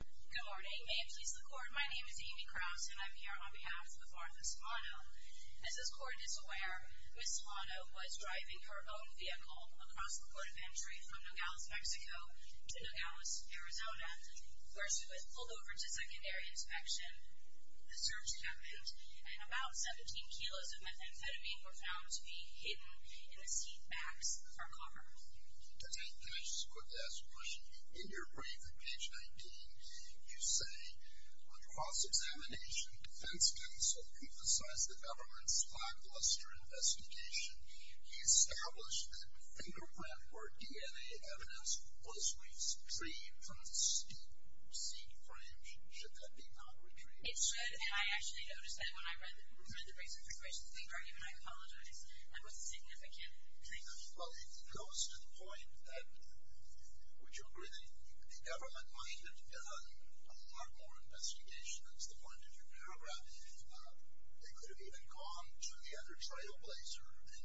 Good morning, may it please the court, my name is Amy Kraus and I'm here on behalf of Martha Solano. As this court is aware, Ms. Solano was driving her own vehicle across the port of entry from Nogales, Mexico to Nogales, Arizona, where she was pulled over to secondary inspection. The search happened and about 17 kilos of methamphetamine were found to be hidden in the seat backs of her car. In your brief on page 19, you say, on cross-examination, defense counsel emphasized the government's lackluster investigation. He established that fingerprint or DNA evidence was retrieved from the seat frames. Should that be not retrieved? It should, and I actually noticed that when I read the reason for Christian's plea argument, I apologized. That was a significant claim. Well, it goes to the point that, would you agree that the government might have done a lot more investigation? That's the point of your paragraph. They could have even gone to the other trailblazer and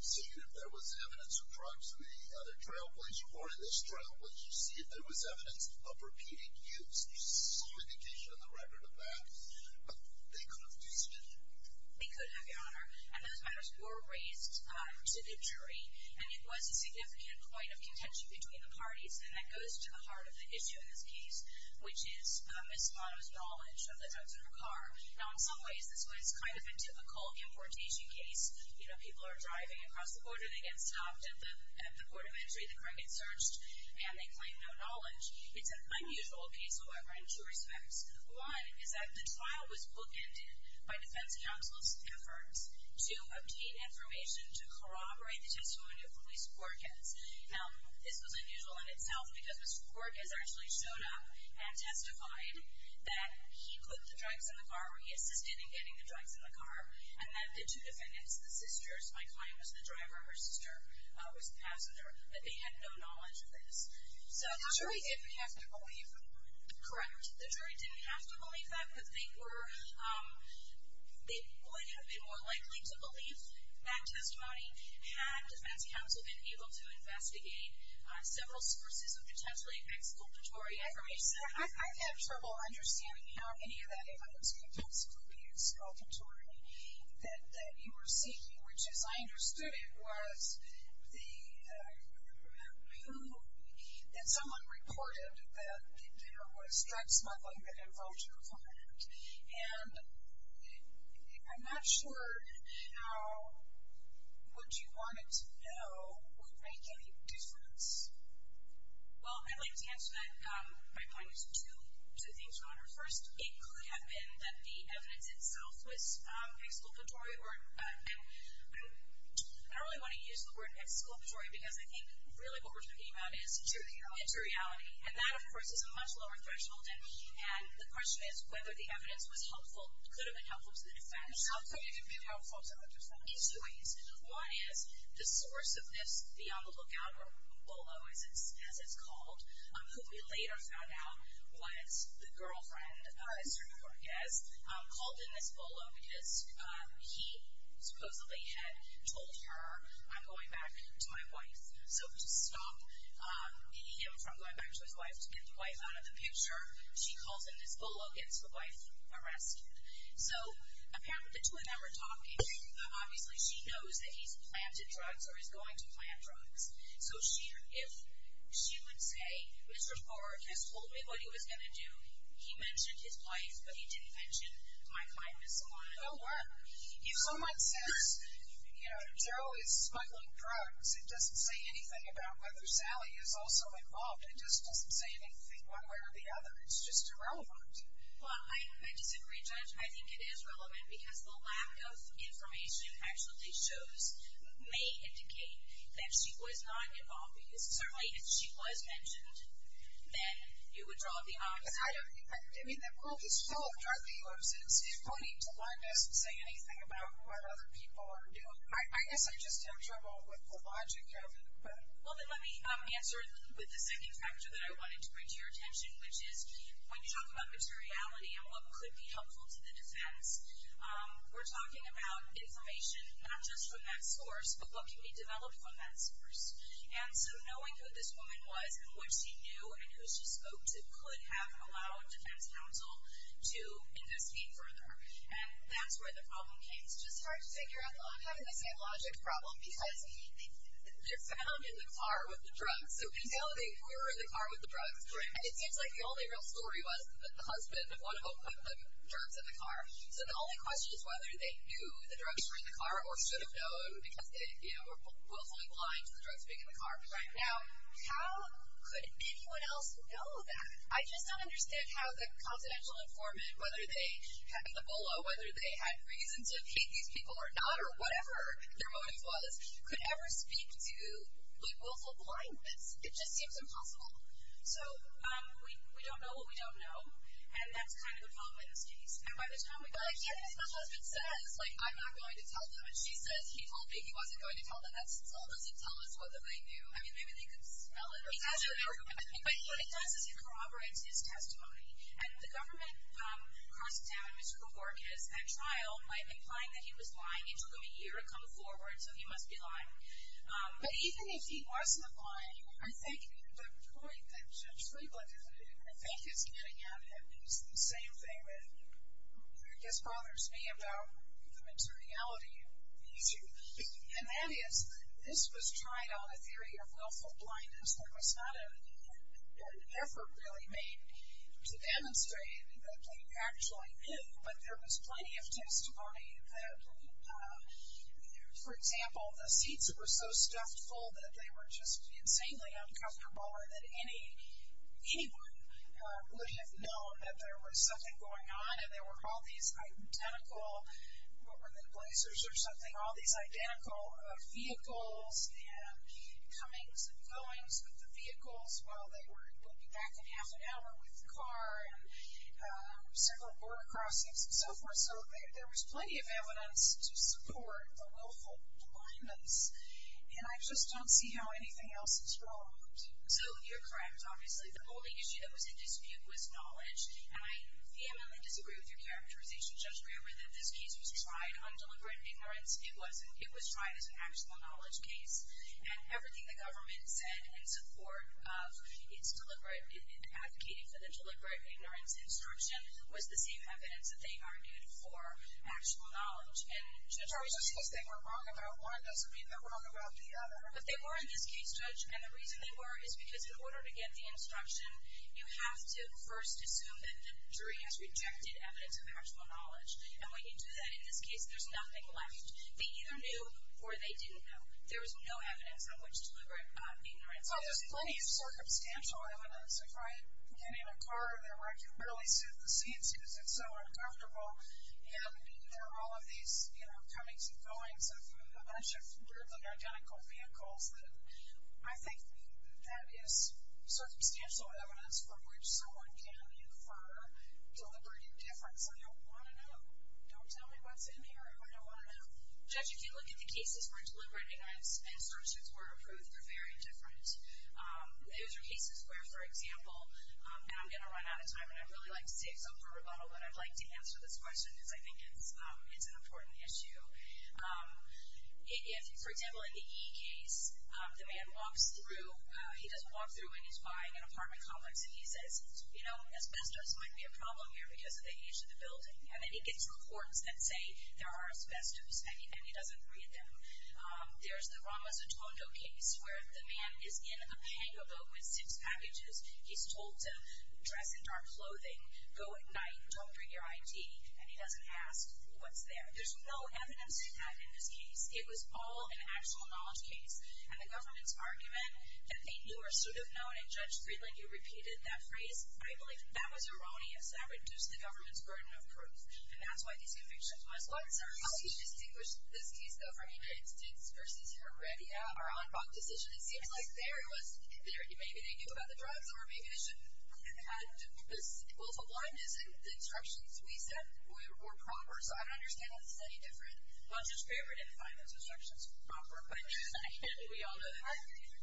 seen if there was evidence of drugs in the other trailblazer, or in this trailblazer, see if there was evidence of repeated use. There's some indication in the record of that, but they could have tested you. They could have, Your Honor, and those matters were raised to the jury, and it was a significant point of contention between the parties, and that goes to the heart of the issue in this case, which is Ms. Spano's knowledge of the drugs in her car. Now, in some ways, this was kind of a typical importation case. You know, people are driving across the border. They get stopped at the port of entry. The car gets searched, and they claim no knowledge. It's an unusual case, however, in two respects. One is that the trial was bookended by defense counsel's efforts to obtain information to corroborate the testimony of Ms. Borges. Now, this was unusual in itself because Ms. Borges actually showed up and testified that he put the drugs in the car or he assisted in getting the drugs in the car, and that the two defendants, the sisters, my client was the driver, her sister was the passenger, that they had no knowledge of this. So the jury didn't have to believe them. Correct. The jury didn't have to believe that, but they would have been more likely to believe that testimony had defense counsel been able to investigate several sources of potentially exculpatory information. I've had trouble understanding how any of that evidence could be exculpatory that you were seeking, which as I understood it was that someone reported that there was drugs smuggling that involved your client. And I'm not sure how what you wanted to know would make any difference. Well, I'd like to answer that by pointing to two things, Your Honor. First, it could have been that the evidence itself was exculpatory, and I don't really want to use the word exculpatory because I think really what we're talking about is true reality. And that, of course, is a much lower threshold, and the question is whether the evidence was helpful, could have been helpful to the defense. It could have been helpful to the defense. In two ways. One is the source of this beyond the lookout, or BOLO as it's called, who we later found out was the girlfriend, Esther Cortez, called in this BOLO because he supposedly had told her, I'm going back to my wife. So to stop him from going back to his wife to get the wife out of the picture, she calls in this BOLO, gets the wife arrested. So apparently the two of them are talking. Obviously she knows that he's planted drugs or is going to plant drugs. So if she would say, Mr. Cortez told me what he was going to do. He mentioned his wife, but he didn't mention my kindness. It won't work. If someone says, you know, Daryl is smuggling drugs, it doesn't say anything about whether Sally is also involved. It just doesn't say anything one way or the other. It's just irrelevant. Well, I disagree, Judge. I think it is relevant because the lack of information actually shows, may indicate that she was not involved. Because certainly if she was mentioned, then you would draw the opposite. I mean, the world is full of drug dealers. It's funny to learn it doesn't say anything about what other people are doing. I guess I just have trouble with the logic of it. Well, then let me answer with the second factor that I wanted to bring to your attention, which is when you talk about materiality and what could be helpful to the defense, we're talking about information not just from that source, but what can be developed from that source. And so knowing who this woman was and what she knew and who she spoke to could have allowed defense counsel to investigate further. And that's where the problem came. It's just hard to figure out. I'm having the same logic problem because they're found in the car with the drugs. So we validate who were in the car with the drugs. And it seems like the only real story was that the husband, one of them, put the drugs in the car. So the only question is whether they knew the drugs were in the car or should have known because they were willfully blind to the drugs being in the car. Right. Now, how could anyone else know that? I just don't understand how the confidential informant, whether they had Ebola, whether they had reason to hate these people or not or whatever their motive was, could ever speak to the willful blindness. It just seems impossible. So we don't know what we don't know, and that's kind of the problem in this case. And by the time we go like, yes, my husband says, like, I'm not going to tell them, and she says, he told me he wasn't going to tell them, that still doesn't tell us whether they knew. I mean, maybe they could spell it or something. But it does corroborate his testimony. And the government cross-examined Mr. Kapourkas at trial by implying that he was lying. It took him a year to come forward, so he must be lying. But even if he wasn't lying, I think the point that Judge Friedland is making, I think is getting at it is the same thing that I guess bothers me about the materiality of the issue. And that is, this was tried on a theory of willful blindness. There was not an effort really made to demonstrate that they actually knew. But there was plenty of testimony that, for example, the seats were so stuffed full that they were just insanely uncomfortable or that anyone would have known that there was something going on and there were all these identical, what were they, blazers or something, all these identical vehicles and comings and goings with the vehicles while they were looking back in half an hour with the car and several border crossings and so forth. So there was plenty of evidence to support the willful blindness. And I just don't see how anything else is wrong. So you're correct, obviously. The only issue that was in dispute was knowledge. And I vehemently disagree with your characterization, Judge Brewer, that this case was tried on deliberate ignorance. It was tried as an actual knowledge case. And everything the government said in support of its deliberate, advocating for the deliberate ignorance instruction was the same evidence that they argued for actual knowledge. And, Judge Brewer, just because they were wrong about one doesn't mean they're wrong about the other. But they were in this case, Judge, and the reason they were is because in order to get the instruction, you have to first assume that the jury has rejected evidence of actual knowledge. And when you do that, in this case, there's nothing left. They either knew or they didn't know. There was no evidence on which deliberate ignorance was used. Well, there's plenty of circumstantial evidence. If I get in a car there where I can barely sit in the seats because it's so uncomfortable, and there are all of these comings and goings of a bunch of weirdly identical vehicles, I think that is circumstantial evidence from which someone can infer deliberate indifference. I don't want to know. Don't tell me what's in here. I don't want to know. Judge, if you look at the cases where deliberate ignorance instructions were approved, I think they're very different. Those are cases where, for example, and I'm going to run out of time, and I'd really like to save some for rebuttal, but I'd like to answer this question because I think it's an important issue. If, for example, in the E case, the man walks through, he doesn't walk through and he's buying an apartment complex, and he says, you know, asbestos might be a problem here because of the age of the building. And then he gets reports that say there are asbestos, and he doesn't read them. There's the Rama Zatondo case where the man is in a pango boat with six packages. He's told to dress in dark clothing, go at night, don't bring your ID, and he doesn't ask what's there. There's no evidence of that in this case. It was all an actual knowledge case, and the government's argument that they knew or should have known, and Judge Friedland, you repeated that phrase, I believe that was erroneous. That reduced the government's burden of proof, and that's why these convictions must be served. How do you distinguish this case, though, from your instance versus your ready, or unbucked decision? It seems like there it was, maybe they knew about the drugs, or maybe they shouldn't have had this. Well, to one, isn't the instructions we set were proper? So I don't understand how this is any different. Well, Judge Graber didn't find those instructions proper, but we all know that.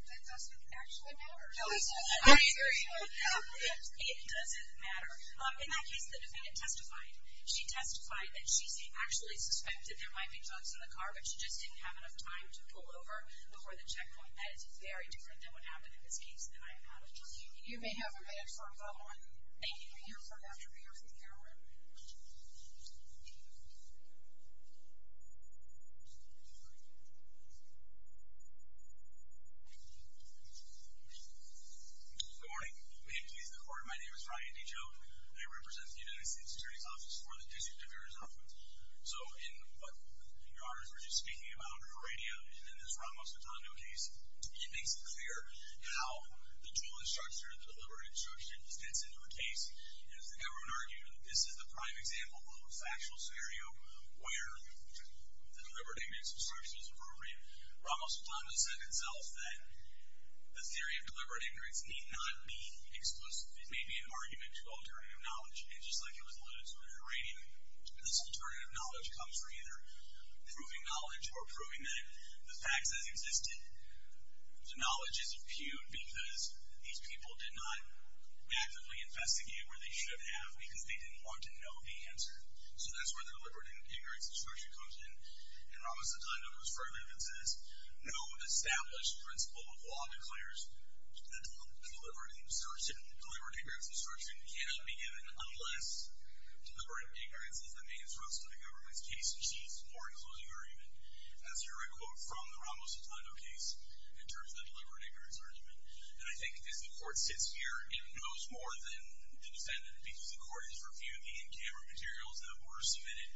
That doesn't actually matter. No, it doesn't. It doesn't matter. In that case, the defendant testified. She testified that she actually suspected there might be drugs in the car, but she just didn't have enough time to pull over before the checkpoint. That is very different than what happened in this case, and I am out of time. You may have a minute for a follow-up. Thank you. We'll hear from Dr. Beers and Cameron. Good morning. May it please the Court, my name is Ryan D. Joe. I represent the United States Attorney's Office for the District of Arizona. So in what your Honors were just speaking about, in this Ramos-Sotondo case, it makes it clear how the tool of instruction, the deliberate instruction, gets into a case. As everyone argued, this is the prime example of a factual scenario where the deliberate ignorance instruction is appropriate. Ramos-Sotondo said itself that the theory of deliberate ignorance need not be exclusive. It may be an argument to alternative knowledge. And just like it was alluded to in her rating, this alternative knowledge comes from either proving knowledge or proving that the facts as existed. The knowledge is impugned because these people did not actively investigate where they should have because they didn't want to know the answer. So that's where the deliberate ignorance instruction comes in. And Ramos-Sotondo goes further and says, no established principle of law declares that deliberate ignorance instruction cannot be given unless deliberate ignorance is the main thrust of the government's case which needs more enclosing argument. That's a direct quote from the Ramos-Sotondo case in terms of the deliberate ignorance argument. And I think as the court sits here, it knows more than the defendant because the court has reviewed the in-camera materials that were submitted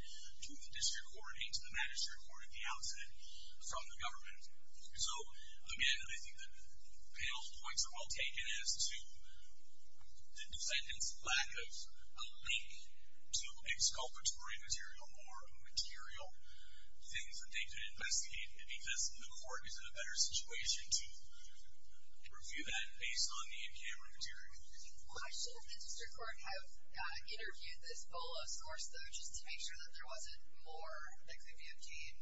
to the district court and to the magistrate court at the outset from the government. So again, I think the panel's points are well taken as to the defendant's lack of a link to a exculpatory material or material things that they could investigate because the court is in a better situation to review that based on the in-camera material. Why should the district court have interviewed this bolo source, though, Just to make sure that there wasn't more that could be obtained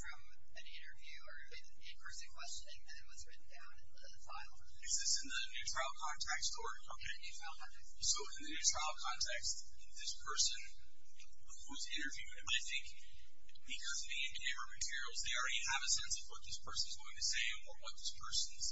from an interview or an in-person questioning than was written down in the file. Is this in the new trial context or? In the new trial context. So in the new trial context, this person who's interviewed, I think because of the in-camera materials, they already have a sense of what this person's going to say or what this person's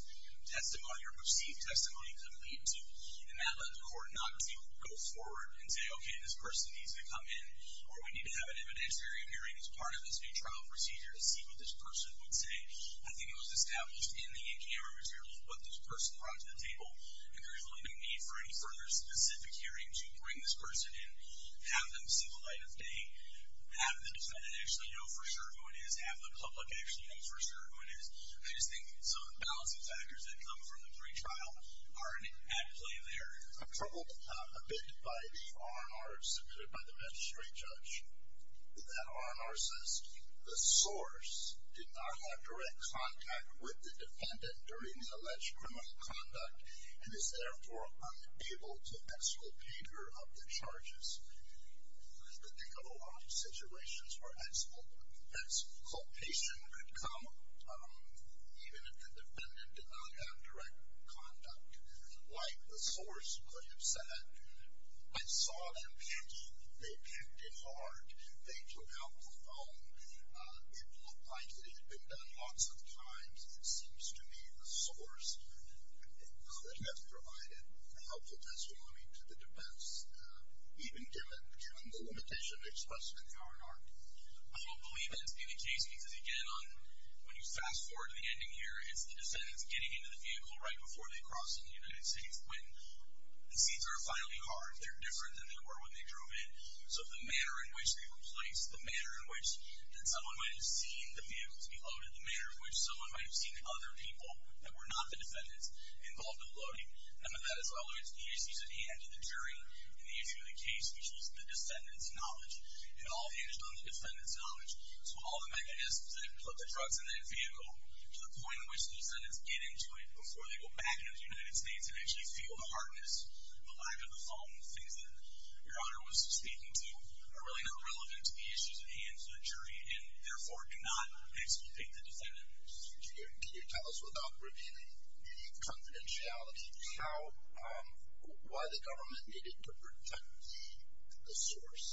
testimony or perceived testimony could lead to. And that led the court not to go forward and say, Okay, this person needs to come in, or we need to have an evidence hearing as part of this new trial procedure to see what this person would say. I think it was established in the in-camera materials what this person brought to the table, and there's really no need for any further specific hearing to bring this person in, have them see the light of day, have the defendant actually know for sure who it is, have the public actually know for sure who it is. I just think some of the balancing factors that come from the pre-trial are at play there. I'm troubled a bit by the R&R submitted by the magistrate judge. That R&R says, The source did not have direct contact with the defendant during the alleged criminal conduct and is therefore unable to exculpate her of the charges. I think of a lot of situations where exculpation could come, even if the defendant did not have direct contact. Like the source could have said, I saw them picking. They picked it hard. They took out the phone. It looked like it had been done lots of times. It seems to me the source could have provided a helpful testimony to the defense, even given the limitation expressed in the R&R. I don't believe that to be the case because, again, when you fast forward to the ending here, it's the defendants getting into the vehicle right before they cross into the United States when the seats are finally hard. They're different than they were when they drove in. So the manner in which they were placed, the manner in which that someone might have seen the vehicle to be loaded, the manner in which someone might have seen other people that were not the defendants involved in loading, none of that is relevant to the issues at hand, to the jury in the issue of the case, which was the defendant's knowledge. It all hinged on the defendant's knowledge. So all the mechanisms that put the trucks in that vehicle to the point in which the defendants get into it before they go back into the United States and actually feel the hardness, the lack of the foam, the things that your honor was speaking to, are really not relevant to the issues at hand to the jury and therefore do not exculpate the defendant. Can you tell us, without revealing any confidentiality, why the government needed to protect the source?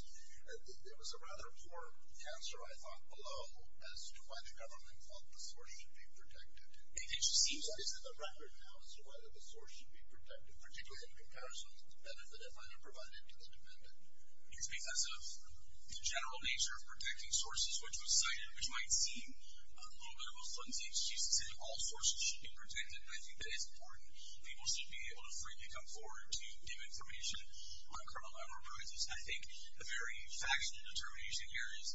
There was a rather poor answer, I thought, below as to why the government felt the source should be protected. It just seems like there's a record now as to whether the source should be protected, particularly in comparison to the benefit that might have provided to the defendant. It's because of the general nature of protecting sources, which was cited, which might seem a little bit of a flimsy. She's saying all sources should be protected, and I think that is important. People should be able to freely come forward to give information on criminal enterprises. I think the very factual determination here is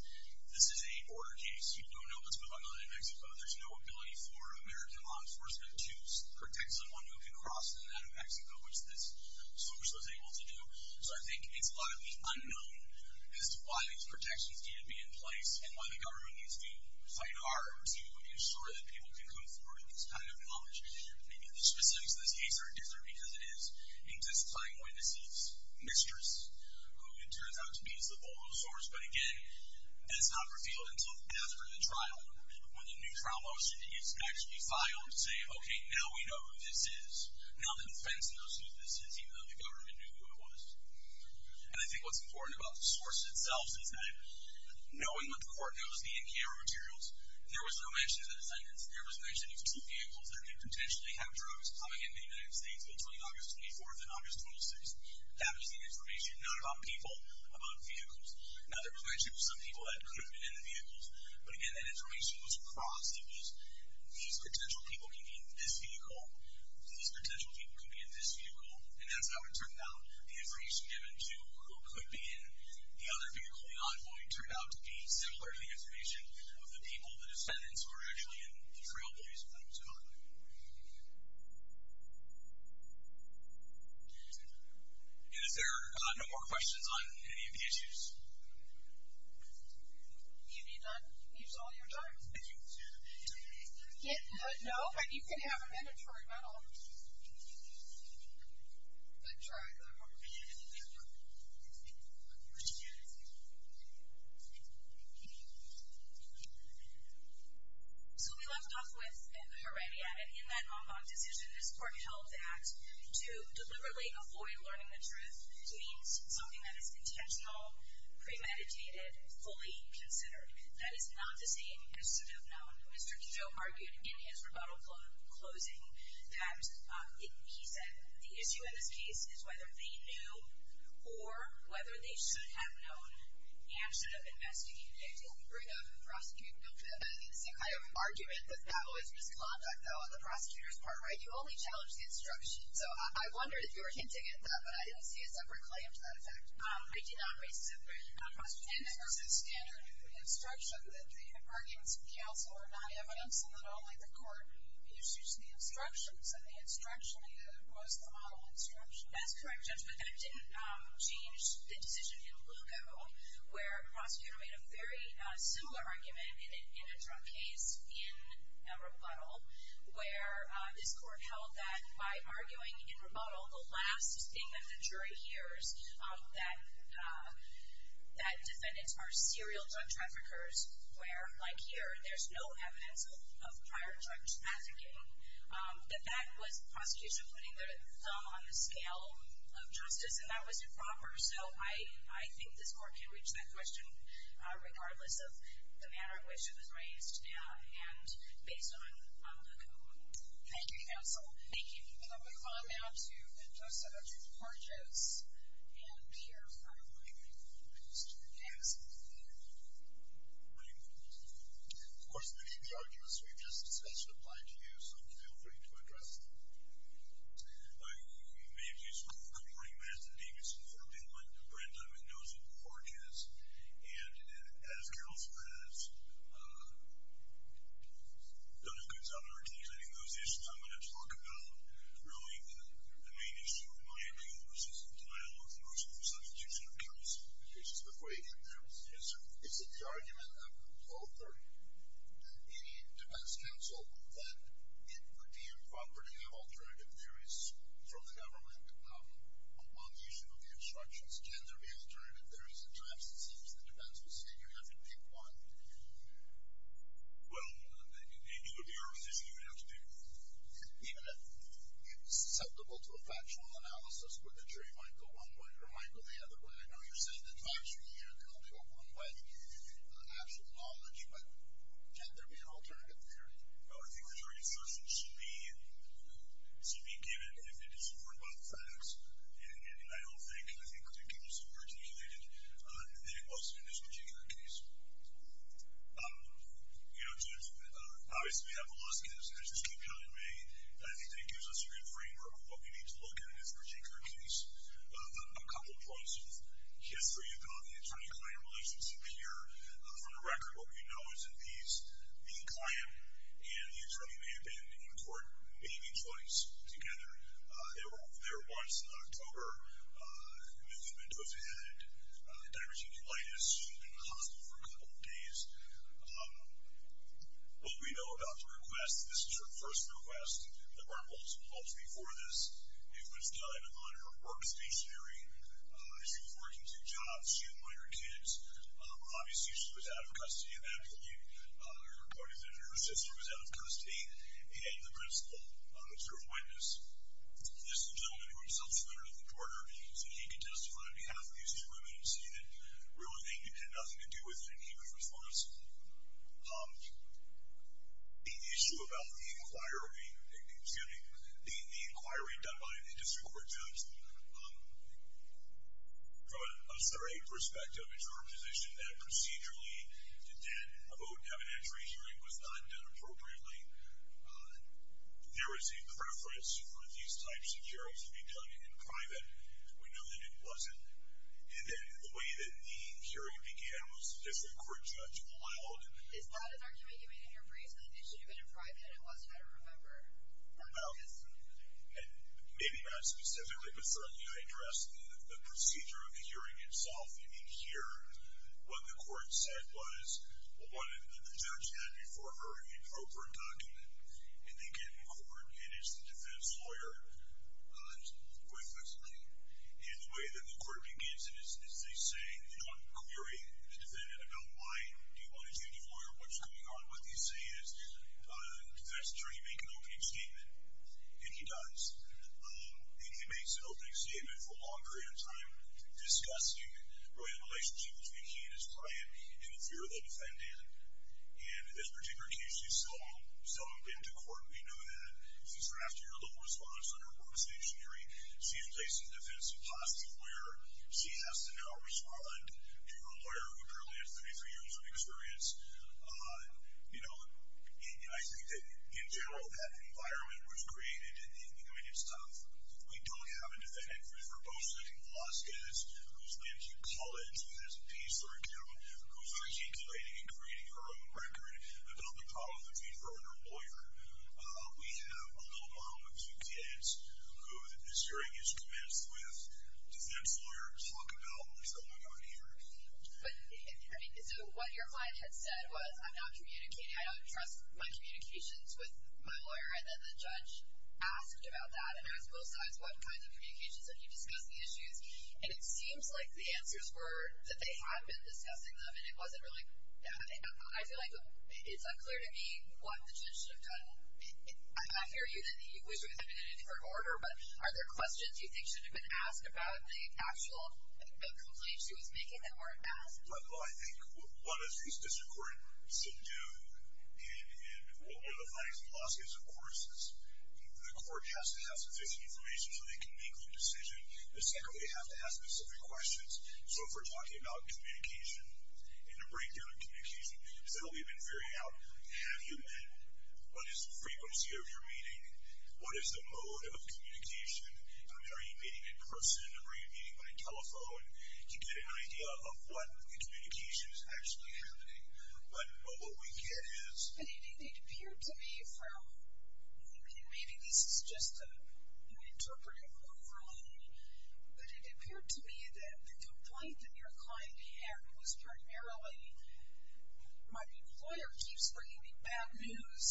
this is a border case. You don't know what's going on in Mexico. There's no ability for American law enforcement to protect someone who can cross in and out of Mexico, which this source was able to do. So I think it's highly unknown as to why these protections need to be in place and why the government needs to fight hard to ensure that people can come forward to this kind of knowledge. Maybe the specifics of this case are different because it is in this playing way this is Mistress, who it turns out to be is the Bolo source, but again, that's not revealed until after the trial when the new trial motion is actually filed to say, okay, now we know who this is. Now the defense knows who this is, even though the government knew who it was. And I think what's important about the source itself is that knowing what the court knows, the in-camera materials, there was no mention of that sentence. There was mention of two vehicles that could potentially have drugs coming into the United States between August 24th and August 26th. That was the information, not about people, about vehicles. Now there was mention of some people that could have been in the vehicles, but again, that information was crossed. It was these potential people could be in this vehicle, these potential people could be in this vehicle, and that's how it turned out. The information given to who could be in the other vehicle not knowing turned out to be similar to the information of the people, the defendants, who were actually in the trailblazer when it was caught. And is there no more questions on any of the issues? You've been done? You've used all your time. No, but you can have a mandatory medal. But try. So we left off with the Heredia case. And in that en banc decision, this court held that to deliberately avoid learning the truth means something that is intentional, premeditated, fully considered. That is not to say it should have known. Mr. Kehoe argued in his rebuttal closing that he said the issue in this case is whether they knew or whether they should have known and should have investigated. Did he bring up a prosecuting bill for that? I have an argument that that was misconduct, though, on the prosecutor's part. You only challenged the instruction. So I wondered if you were hinting at that, but I didn't see a separate claim to that effect. I did not raise a separate question. And that was a standard instruction that the arguments of counsel are not evidence and that only the court issues the instructions. And the instruction was the model instruction. That's correct, Judge. But that didn't change the decision in Lugo where a prosecutor made a very similar argument in a drug case in rebuttal where this court held that by arguing in rebuttal the last thing that the jury hears that defendants are serial drug traffickers where, like here, there's no evidence of prior drug trafficking. That that was prosecution putting their thumb on the scale of justice, and that was improper. So I think this court can reach that question regardless of the manner in which it was raised and based on the components. Thank you, counsel. Thank you. And I'm going to move on now to Judge Porteous. And here's my argument. Please do. Yes. Thank you. Great. Of course, many of the arguments we've just discussed apply to you, so feel free to address them. My name is Cory Matheson. For people like Brenda, I'm a nosy porteous. And as counsel has done a good job in articulating those issues, I'm going to talk about really the main issue of my appeal versus the denial of motion for substitution of counsel. Here's just before you get there. Yes, sir. Is it the argument of the author, any defense counsel, that it would be improper to have alternative theories from the government on the issue of the obstructions? Can there be alternative theories? At times it seems the defense will say you have to pick one. Well, they do appear as if you have to pick one. Even if you're susceptible to a factual analysis, the jury might go one way or might go the other way. I know you're saying that times from here they'll go one way, absolute knowledge, but can't there be an alternative theory? No, I think the jury's assertion should be given if it is informed by the facts. And I don't think it could be more articulated than it was in this particular case. You know, obviously we have the lawsuits, and there's this compelling way. I think it gives us a good framework of what we need to look at in this particular case. A couple points of history about the attorney-client relationship here. For the record, what we know is that the client and the attorney may have been in court maybe twice together. They were there once in October. Newton-Mentos had divergent colitis. She was in the hospital for a couple of days. What we know about the request, this is her first request. There were multiple calls before this. It was done on her work stationery. She was working two jobs. She employed her kids. Obviously she was out of custody at that point. Her sister was out of custody, and the principal was her witness. This gentleman, who himself is a veteran of the quarter, said he could testify on behalf of these two women and say that really they had nothing to do with it, and he was responsible. The issue about the inquiry, excuse me, the inquiry done by a district court judge, from a third-rate perspective, it's our position that procedurally that a vote in evidentiary hearing was not done appropriately. There was a preference for these types of hearings to be done in private. We know that it wasn't, and that the way that the hearing began was the district court judge allowed. Is that an argument you made in your brief that it should have been in private and it wasn't at a room number? No, and maybe not specifically, but certainly I addressed the procedure of the hearing itself. You need to hear what the court said was what the judge had before her, an appropriate document, and they get in court, and it's the defense lawyer, quite flexibly. And the way that the court begins is they say, they don't query the defendant about why do you want a judge or lawyer, what's going on. What they say is the defense attorney make an opening statement, and he does. And he makes an opening statement for a long period of time discussing really the relationship between he and his client and the fear of the defendant. And in this particular case, he's still open to court. We know that. Since we're after your little response on her work stationery, she employs a defensive possible lawyer. She has to now respond to her lawyer, who apparently has 33 years of experience. You know, I think that, in general, that environment was created in the immediate stuff. We don't have a defendant who's verbose in her law skills, who's lived in college, who has a piece or account, who's articulating and creating her own record about the problem between her and her lawyer. We have a little mom with two kids who the hearing is commenced with. Does that lawyer talk about what's going on here? But, I mean, so what your client had said was, I'm not communicating. I don't trust my communications with my lawyer. And then the judge asked about that and asked both sides what kinds of communications when you discuss the issues. And it seems like the answers were that they had been discussing them, and it wasn't really – I feel like it's unclear to me what the judge should have done. I hear you that you wish it would have been in a different order, but are there questions you think should have been asked about the actual complaint she was making that weren't asked? Well, I think one of the things the district court should do in the findings of the lawsuits, of course, is the court has to have sufficient information so they can make the decision. And secondly, they have to have specific questions. So if we're talking about communication and the breakdown of communication, so we've been figuring out, have you met? What is the frequency of your meeting? What is the mode of communication? Are you meeting in person or are you meeting by telephone? To get an idea of what the communication is actually happening. But what we get is – It appeared to me from – maybe this is just a new interpretive overload, but it appeared to me that the complaint that your client had was primarily my employer keeps bringing me bad news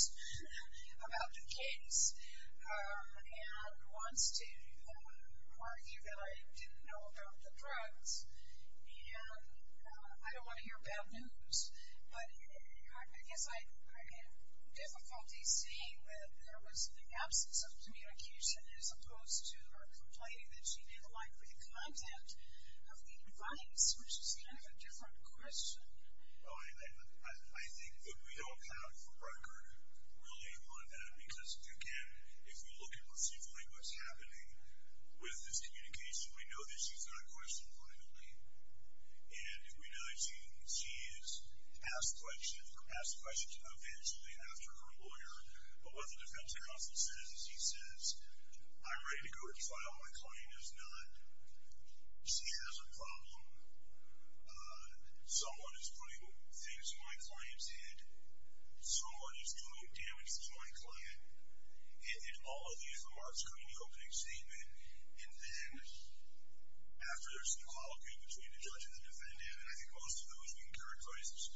about the case and wants to argue that I didn't know about the drugs. And I don't want to hear bad news, but I guess I have difficulty seeing that there was an absence of communication as opposed to her complaining that she didn't like the content of the advice, which is kind of a different question. I think that we don't have a record really on that because, again, if you look at what's happening with this communication, we know that she's not questioned privately. And we know that she is asked questions eventually after her lawyer. But what the defense counsel says is he says, I'm ready to go to trial. My client is not – she has a problem. Someone is putting things in my client's head. Someone is doing damage to my client. And all of these remarks come in the opening statement. And then after there's some quality between the judge and the defendant, and I think most of those we can characterize as –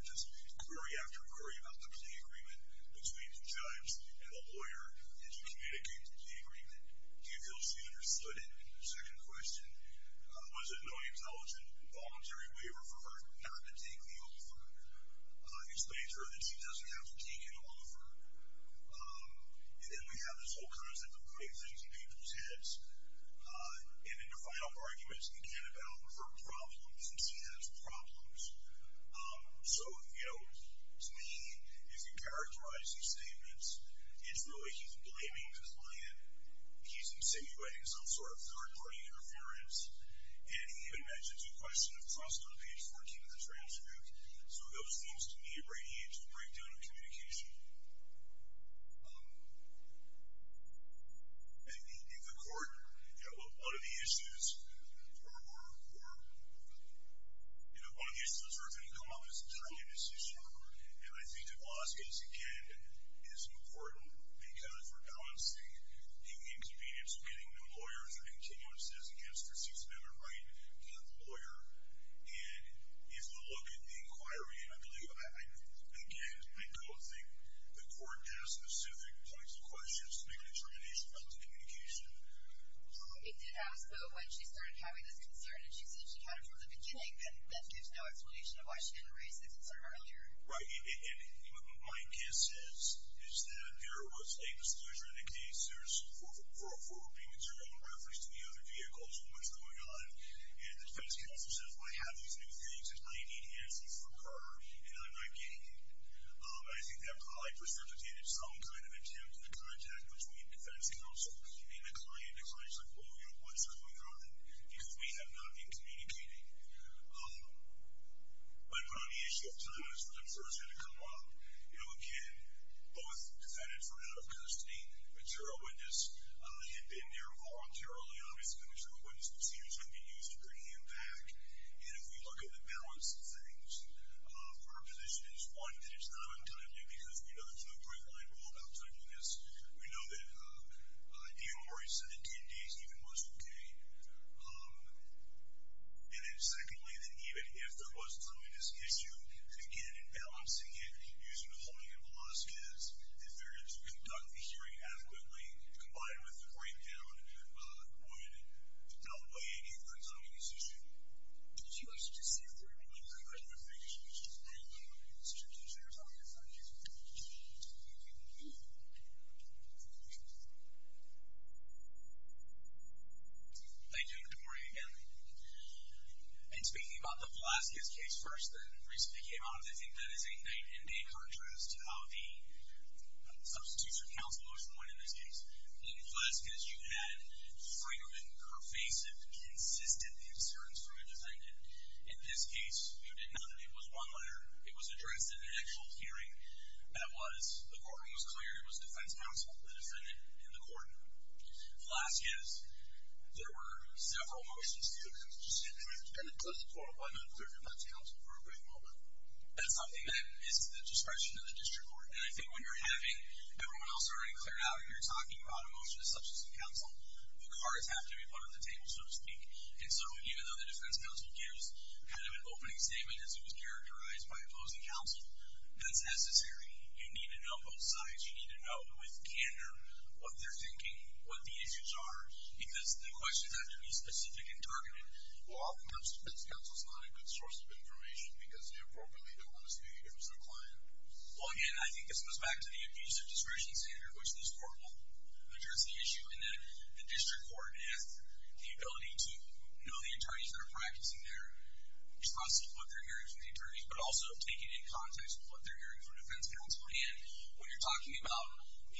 just query after query about the plea agreement between the judge and the lawyer as you communicate the plea agreement. Do you feel she understood it? Second question, was it no intelligent, voluntary waiver for her not to take the offer? Explain to her that she doesn't have to take an offer. And then we have this whole concept of putting things in people's heads. And then the final argument is, again, about her problems. She has problems. So, you know, to me, if you characterize these statements, it's really he's blaming his client. He's insinuating some sort of third-party interference. And he even mentions a question of trust on page 14 of the transcript. So those things to me radiate to a breakdown of communication. And in the court, you know, one of the issues or, you know, one of the issues that are going to come up is the timing of this issue. And I think the law space, again, is important, because we're balancing the inconvenience of getting new lawyers and continuances against perceived better right by the lawyer. And if you look at the inquiry, and I believe, again, I don't think the court asked specific points of questions to make a determination about the communication. It did ask, though, when she started having this concern, and she said she had it from the beginning. And that gives no explanation of why she didn't raise the concern earlier. Right. And my guess is that there was a disclosure in the case. There's 404B material in reference to the other vehicles and what's going on. And the defense counsel says, well, I have these new things, and I need answers from her, and I'm not getting them. I think that probably precipitated some kind of attempt at contact between defense counsel and the client. The client's like, well, you know, what's going on? Because we have not been communicating. But on the issue of time, that's where the concerns are going to come up. You know, again, both defendants were out of custody. Material witness had been there voluntarily. Obviously, the material witness procedures can be used to bring him back. And if we look at the balance of things, our position is, one, that it's not untimely, because we know there's no great line rule about timeliness. We know that D.M. Morris said that 10 days even was okay. And then, secondly, that even if there was a timeliness issue, that, again, in balancing it using the holding and Velazquez, that failure to conduct the hearing adequately, combined with the breakdown, would not weigh any of the timeliness issue. Thank you, and good morning again. And speaking about the Velazquez case first that recently came out, I think that is a night and day contrast to how the substitutes or counselors went in this case. In Velazquez, you had frequent, pervasive, consistent concerns from a defendant. In this case, you did not. It was one letter. It was addressed in an actual hearing. That was, the court was clear. It was defense counsel, the defendant, and the court. Velazquez, there were several motions. That's something that is to the discretion of the district court. And I think when you're having everyone else already cleared out, and you're talking about a motion to substitute counsel, the cards have to be put at the table, so to speak. And so even though the defense counsel gives kind of an opening statement as it was characterized by opposing counsel, that's necessary. You need to know both sides. You need to know with candor what they're thinking, what the issues are, because the questions have to be specific and targeted. Well, oftentimes defense counsel is not a good source of information because they appropriately don't want to speak against their client. Well, again, I think this goes back to the abusive discretion standard, which this court will address the issue in that the district court has the ability to know the attorneys that are practicing their response to what they're hearing from the attorneys, but also take it in context with what they're hearing from defense counsel. And when you're talking about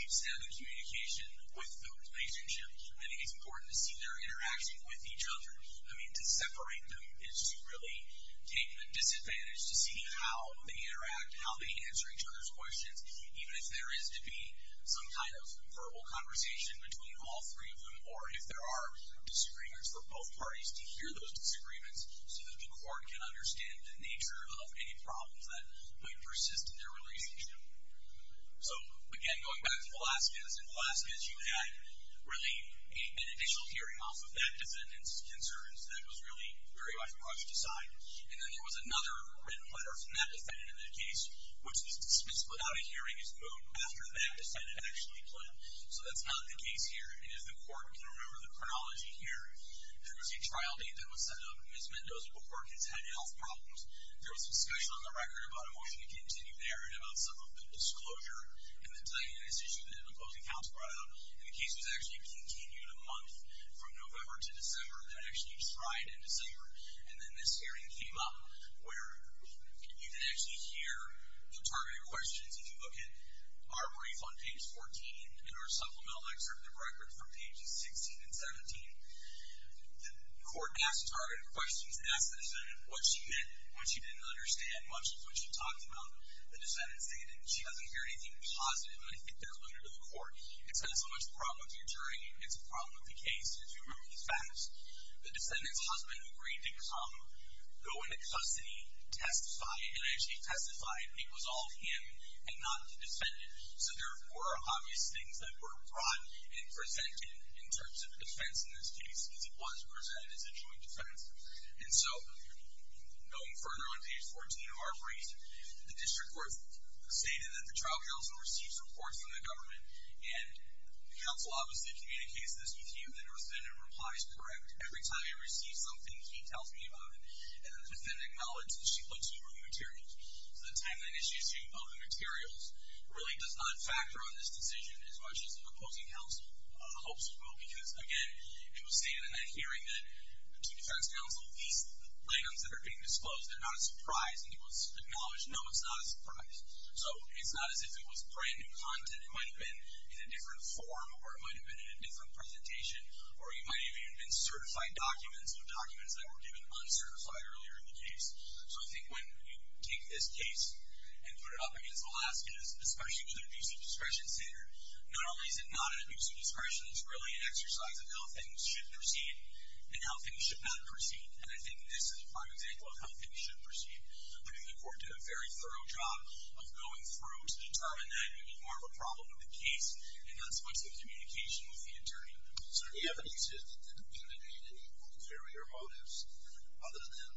deep-seated communication with the relationship, I think it's important to see their interaction with each other. I mean, to separate them is to really take the disadvantage to see how they interact, how they answer each other's questions, even if there is to be some kind of verbal conversation between all three of them, or if there are disagreements for both parties to hear those disagreements so that the court can understand the nature of any problems that might persist in their relationship. So, again, going back to Velazquez, in Velazquez you had really an initial hearing off of that defendant's concerns that was really very much brushed aside. And then there was another written letter from that defendant in that case, which was dismissed without a hearing. It was moved after that defendant actually pled. So that's not the case here. And if the court can remember the chronology here, there was a trial date that was set up. Ms. Mendoza, the court, has had health problems. There was discussion on the record about a motion to continue there and about some of the disclosure and the tightness issue that an opposing counsel brought out. And the case was actually continued a month from November to December. That actually expired in December. And then this hearing came up where you can actually hear the targeted questions. If you look at our brief on page 14 and our supplemental excerpt of the record from pages 16 and 17, the court asked targeted questions. It asked the defendant what she meant, what she didn't understand, much of what she talked about. The defendant stated she doesn't hear anything positive, and I think that alluded to the court. It's not so much a problem with the attorney, it's a problem with the case. If you remember the facts, the defendant's husband agreed to come, go into custody, testify, and actually testified it was all him and not the defendant. So there were obvious things that were brought and presented in terms of a defense in this case, because it was presented as a joint defense. And so going further on page 14 of our brief, the district court stated that the trial counsel receives reports from the government, and the counsel obviously communicates this with you, and the defendant replies correct. Every time he receives something, he tells me about it, and the defendant acknowledges she looks over the materials. So the timeliness issue of the materials really does not factor on this decision as much as the opposing counsel hopes it will, because, again, it was stated in that hearing that to the defense counsel, these items that are being disclosed, they're not a surprise, and it was acknowledged, no, it's not a surprise. So it's not as if it was brand-new content. It might have been in a different form, or it might have been in a different presentation, or it might have even been certified documents or documents that were given uncertified earlier in the case. So I think when you take this case and put it up against Alaska, especially with an abuse of discretion standard, not only is it not an abuse of discretion, it's really an exercise of how things should proceed and how things should not proceed, and I think this is a prime example of how things should proceed. I think the court did a very thorough job of going through to determine that it would be more of a problem in the case, and that's what's in communication with the attorney. Sir, do you have any sense that the defendant had any ulterior motives other than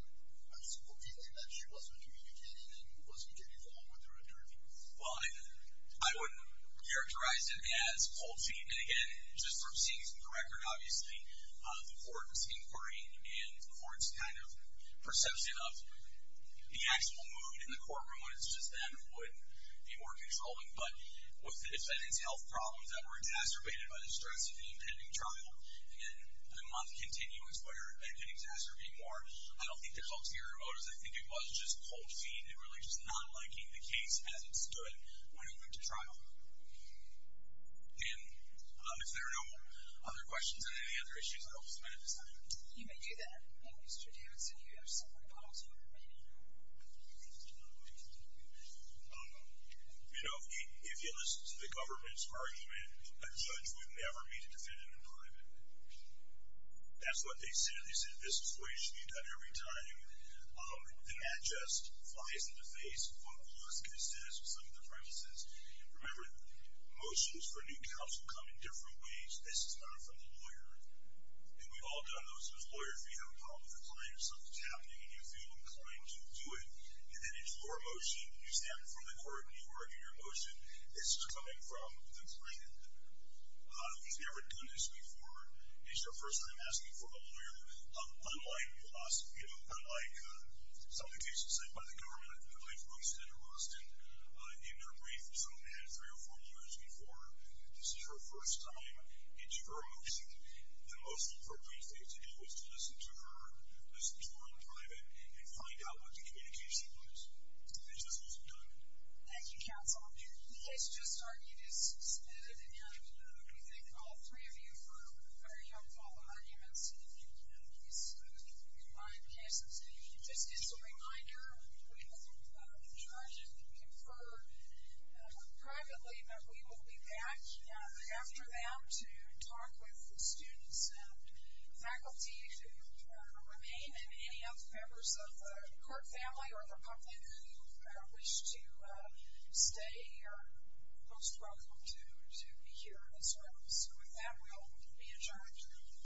a simple feeling that she wasn't communicating and wasn't getting along with her attorney? Well, I wouldn't characterize it as cold feet. And again, just from seeing from the record, obviously, the court's inquiry and the court's kind of perception of the actual mood in the courtroom when it's just them would be more controlling. But with the defendant's health problems that were exacerbated by the stress of the impending trial and the month continuance where it had been exacerbating more, I don't think there's ulterior motives. I think it was just cold feet and it was really just not liking the case as it stood when it went to trial. And if there are no other questions on any other issues, I hope this has been a good assignment. You may do that. And Mr. Davidson, do you have something to follow up on? You know, if you listen to the government's argument, a judge would never meet a defendant in private. That's what they said. They said this is the way you should be done every time. And that just flies in the face of what Pulaski says with some of the premises. Remember, motions for new counsel come in different ways. This is not from the lawyer. And we've all done those with lawyers where you have a problem with a client or something's happening and you feel inclined to do it. And then it's your motion. You stand before the court and you argue your motion. This is coming from the client. We've never done this before. It's your first time asking for a lawyer. Unlike Pulaski, you know, unlike some of the cases said by the government, I believe Roosten and Roosten, in their brief, some of them had three or four lawyers before. This is her first time. It's her motion. The most appropriate thing to do is to listen to her, listen to her in private, and find out what the communication was. And this is what's been done. Thank you, Counsel. The case just started. It is submitted. And we thank all three of you for very helpful arguments in these combined cases. Just as a reminder, we will charge and confer privately, but we will be back after them to talk with the students and faculty who remain and any other members of the court family or the public who wish to stay here are most welcome to be here as well. So with that, we'll be adjourned.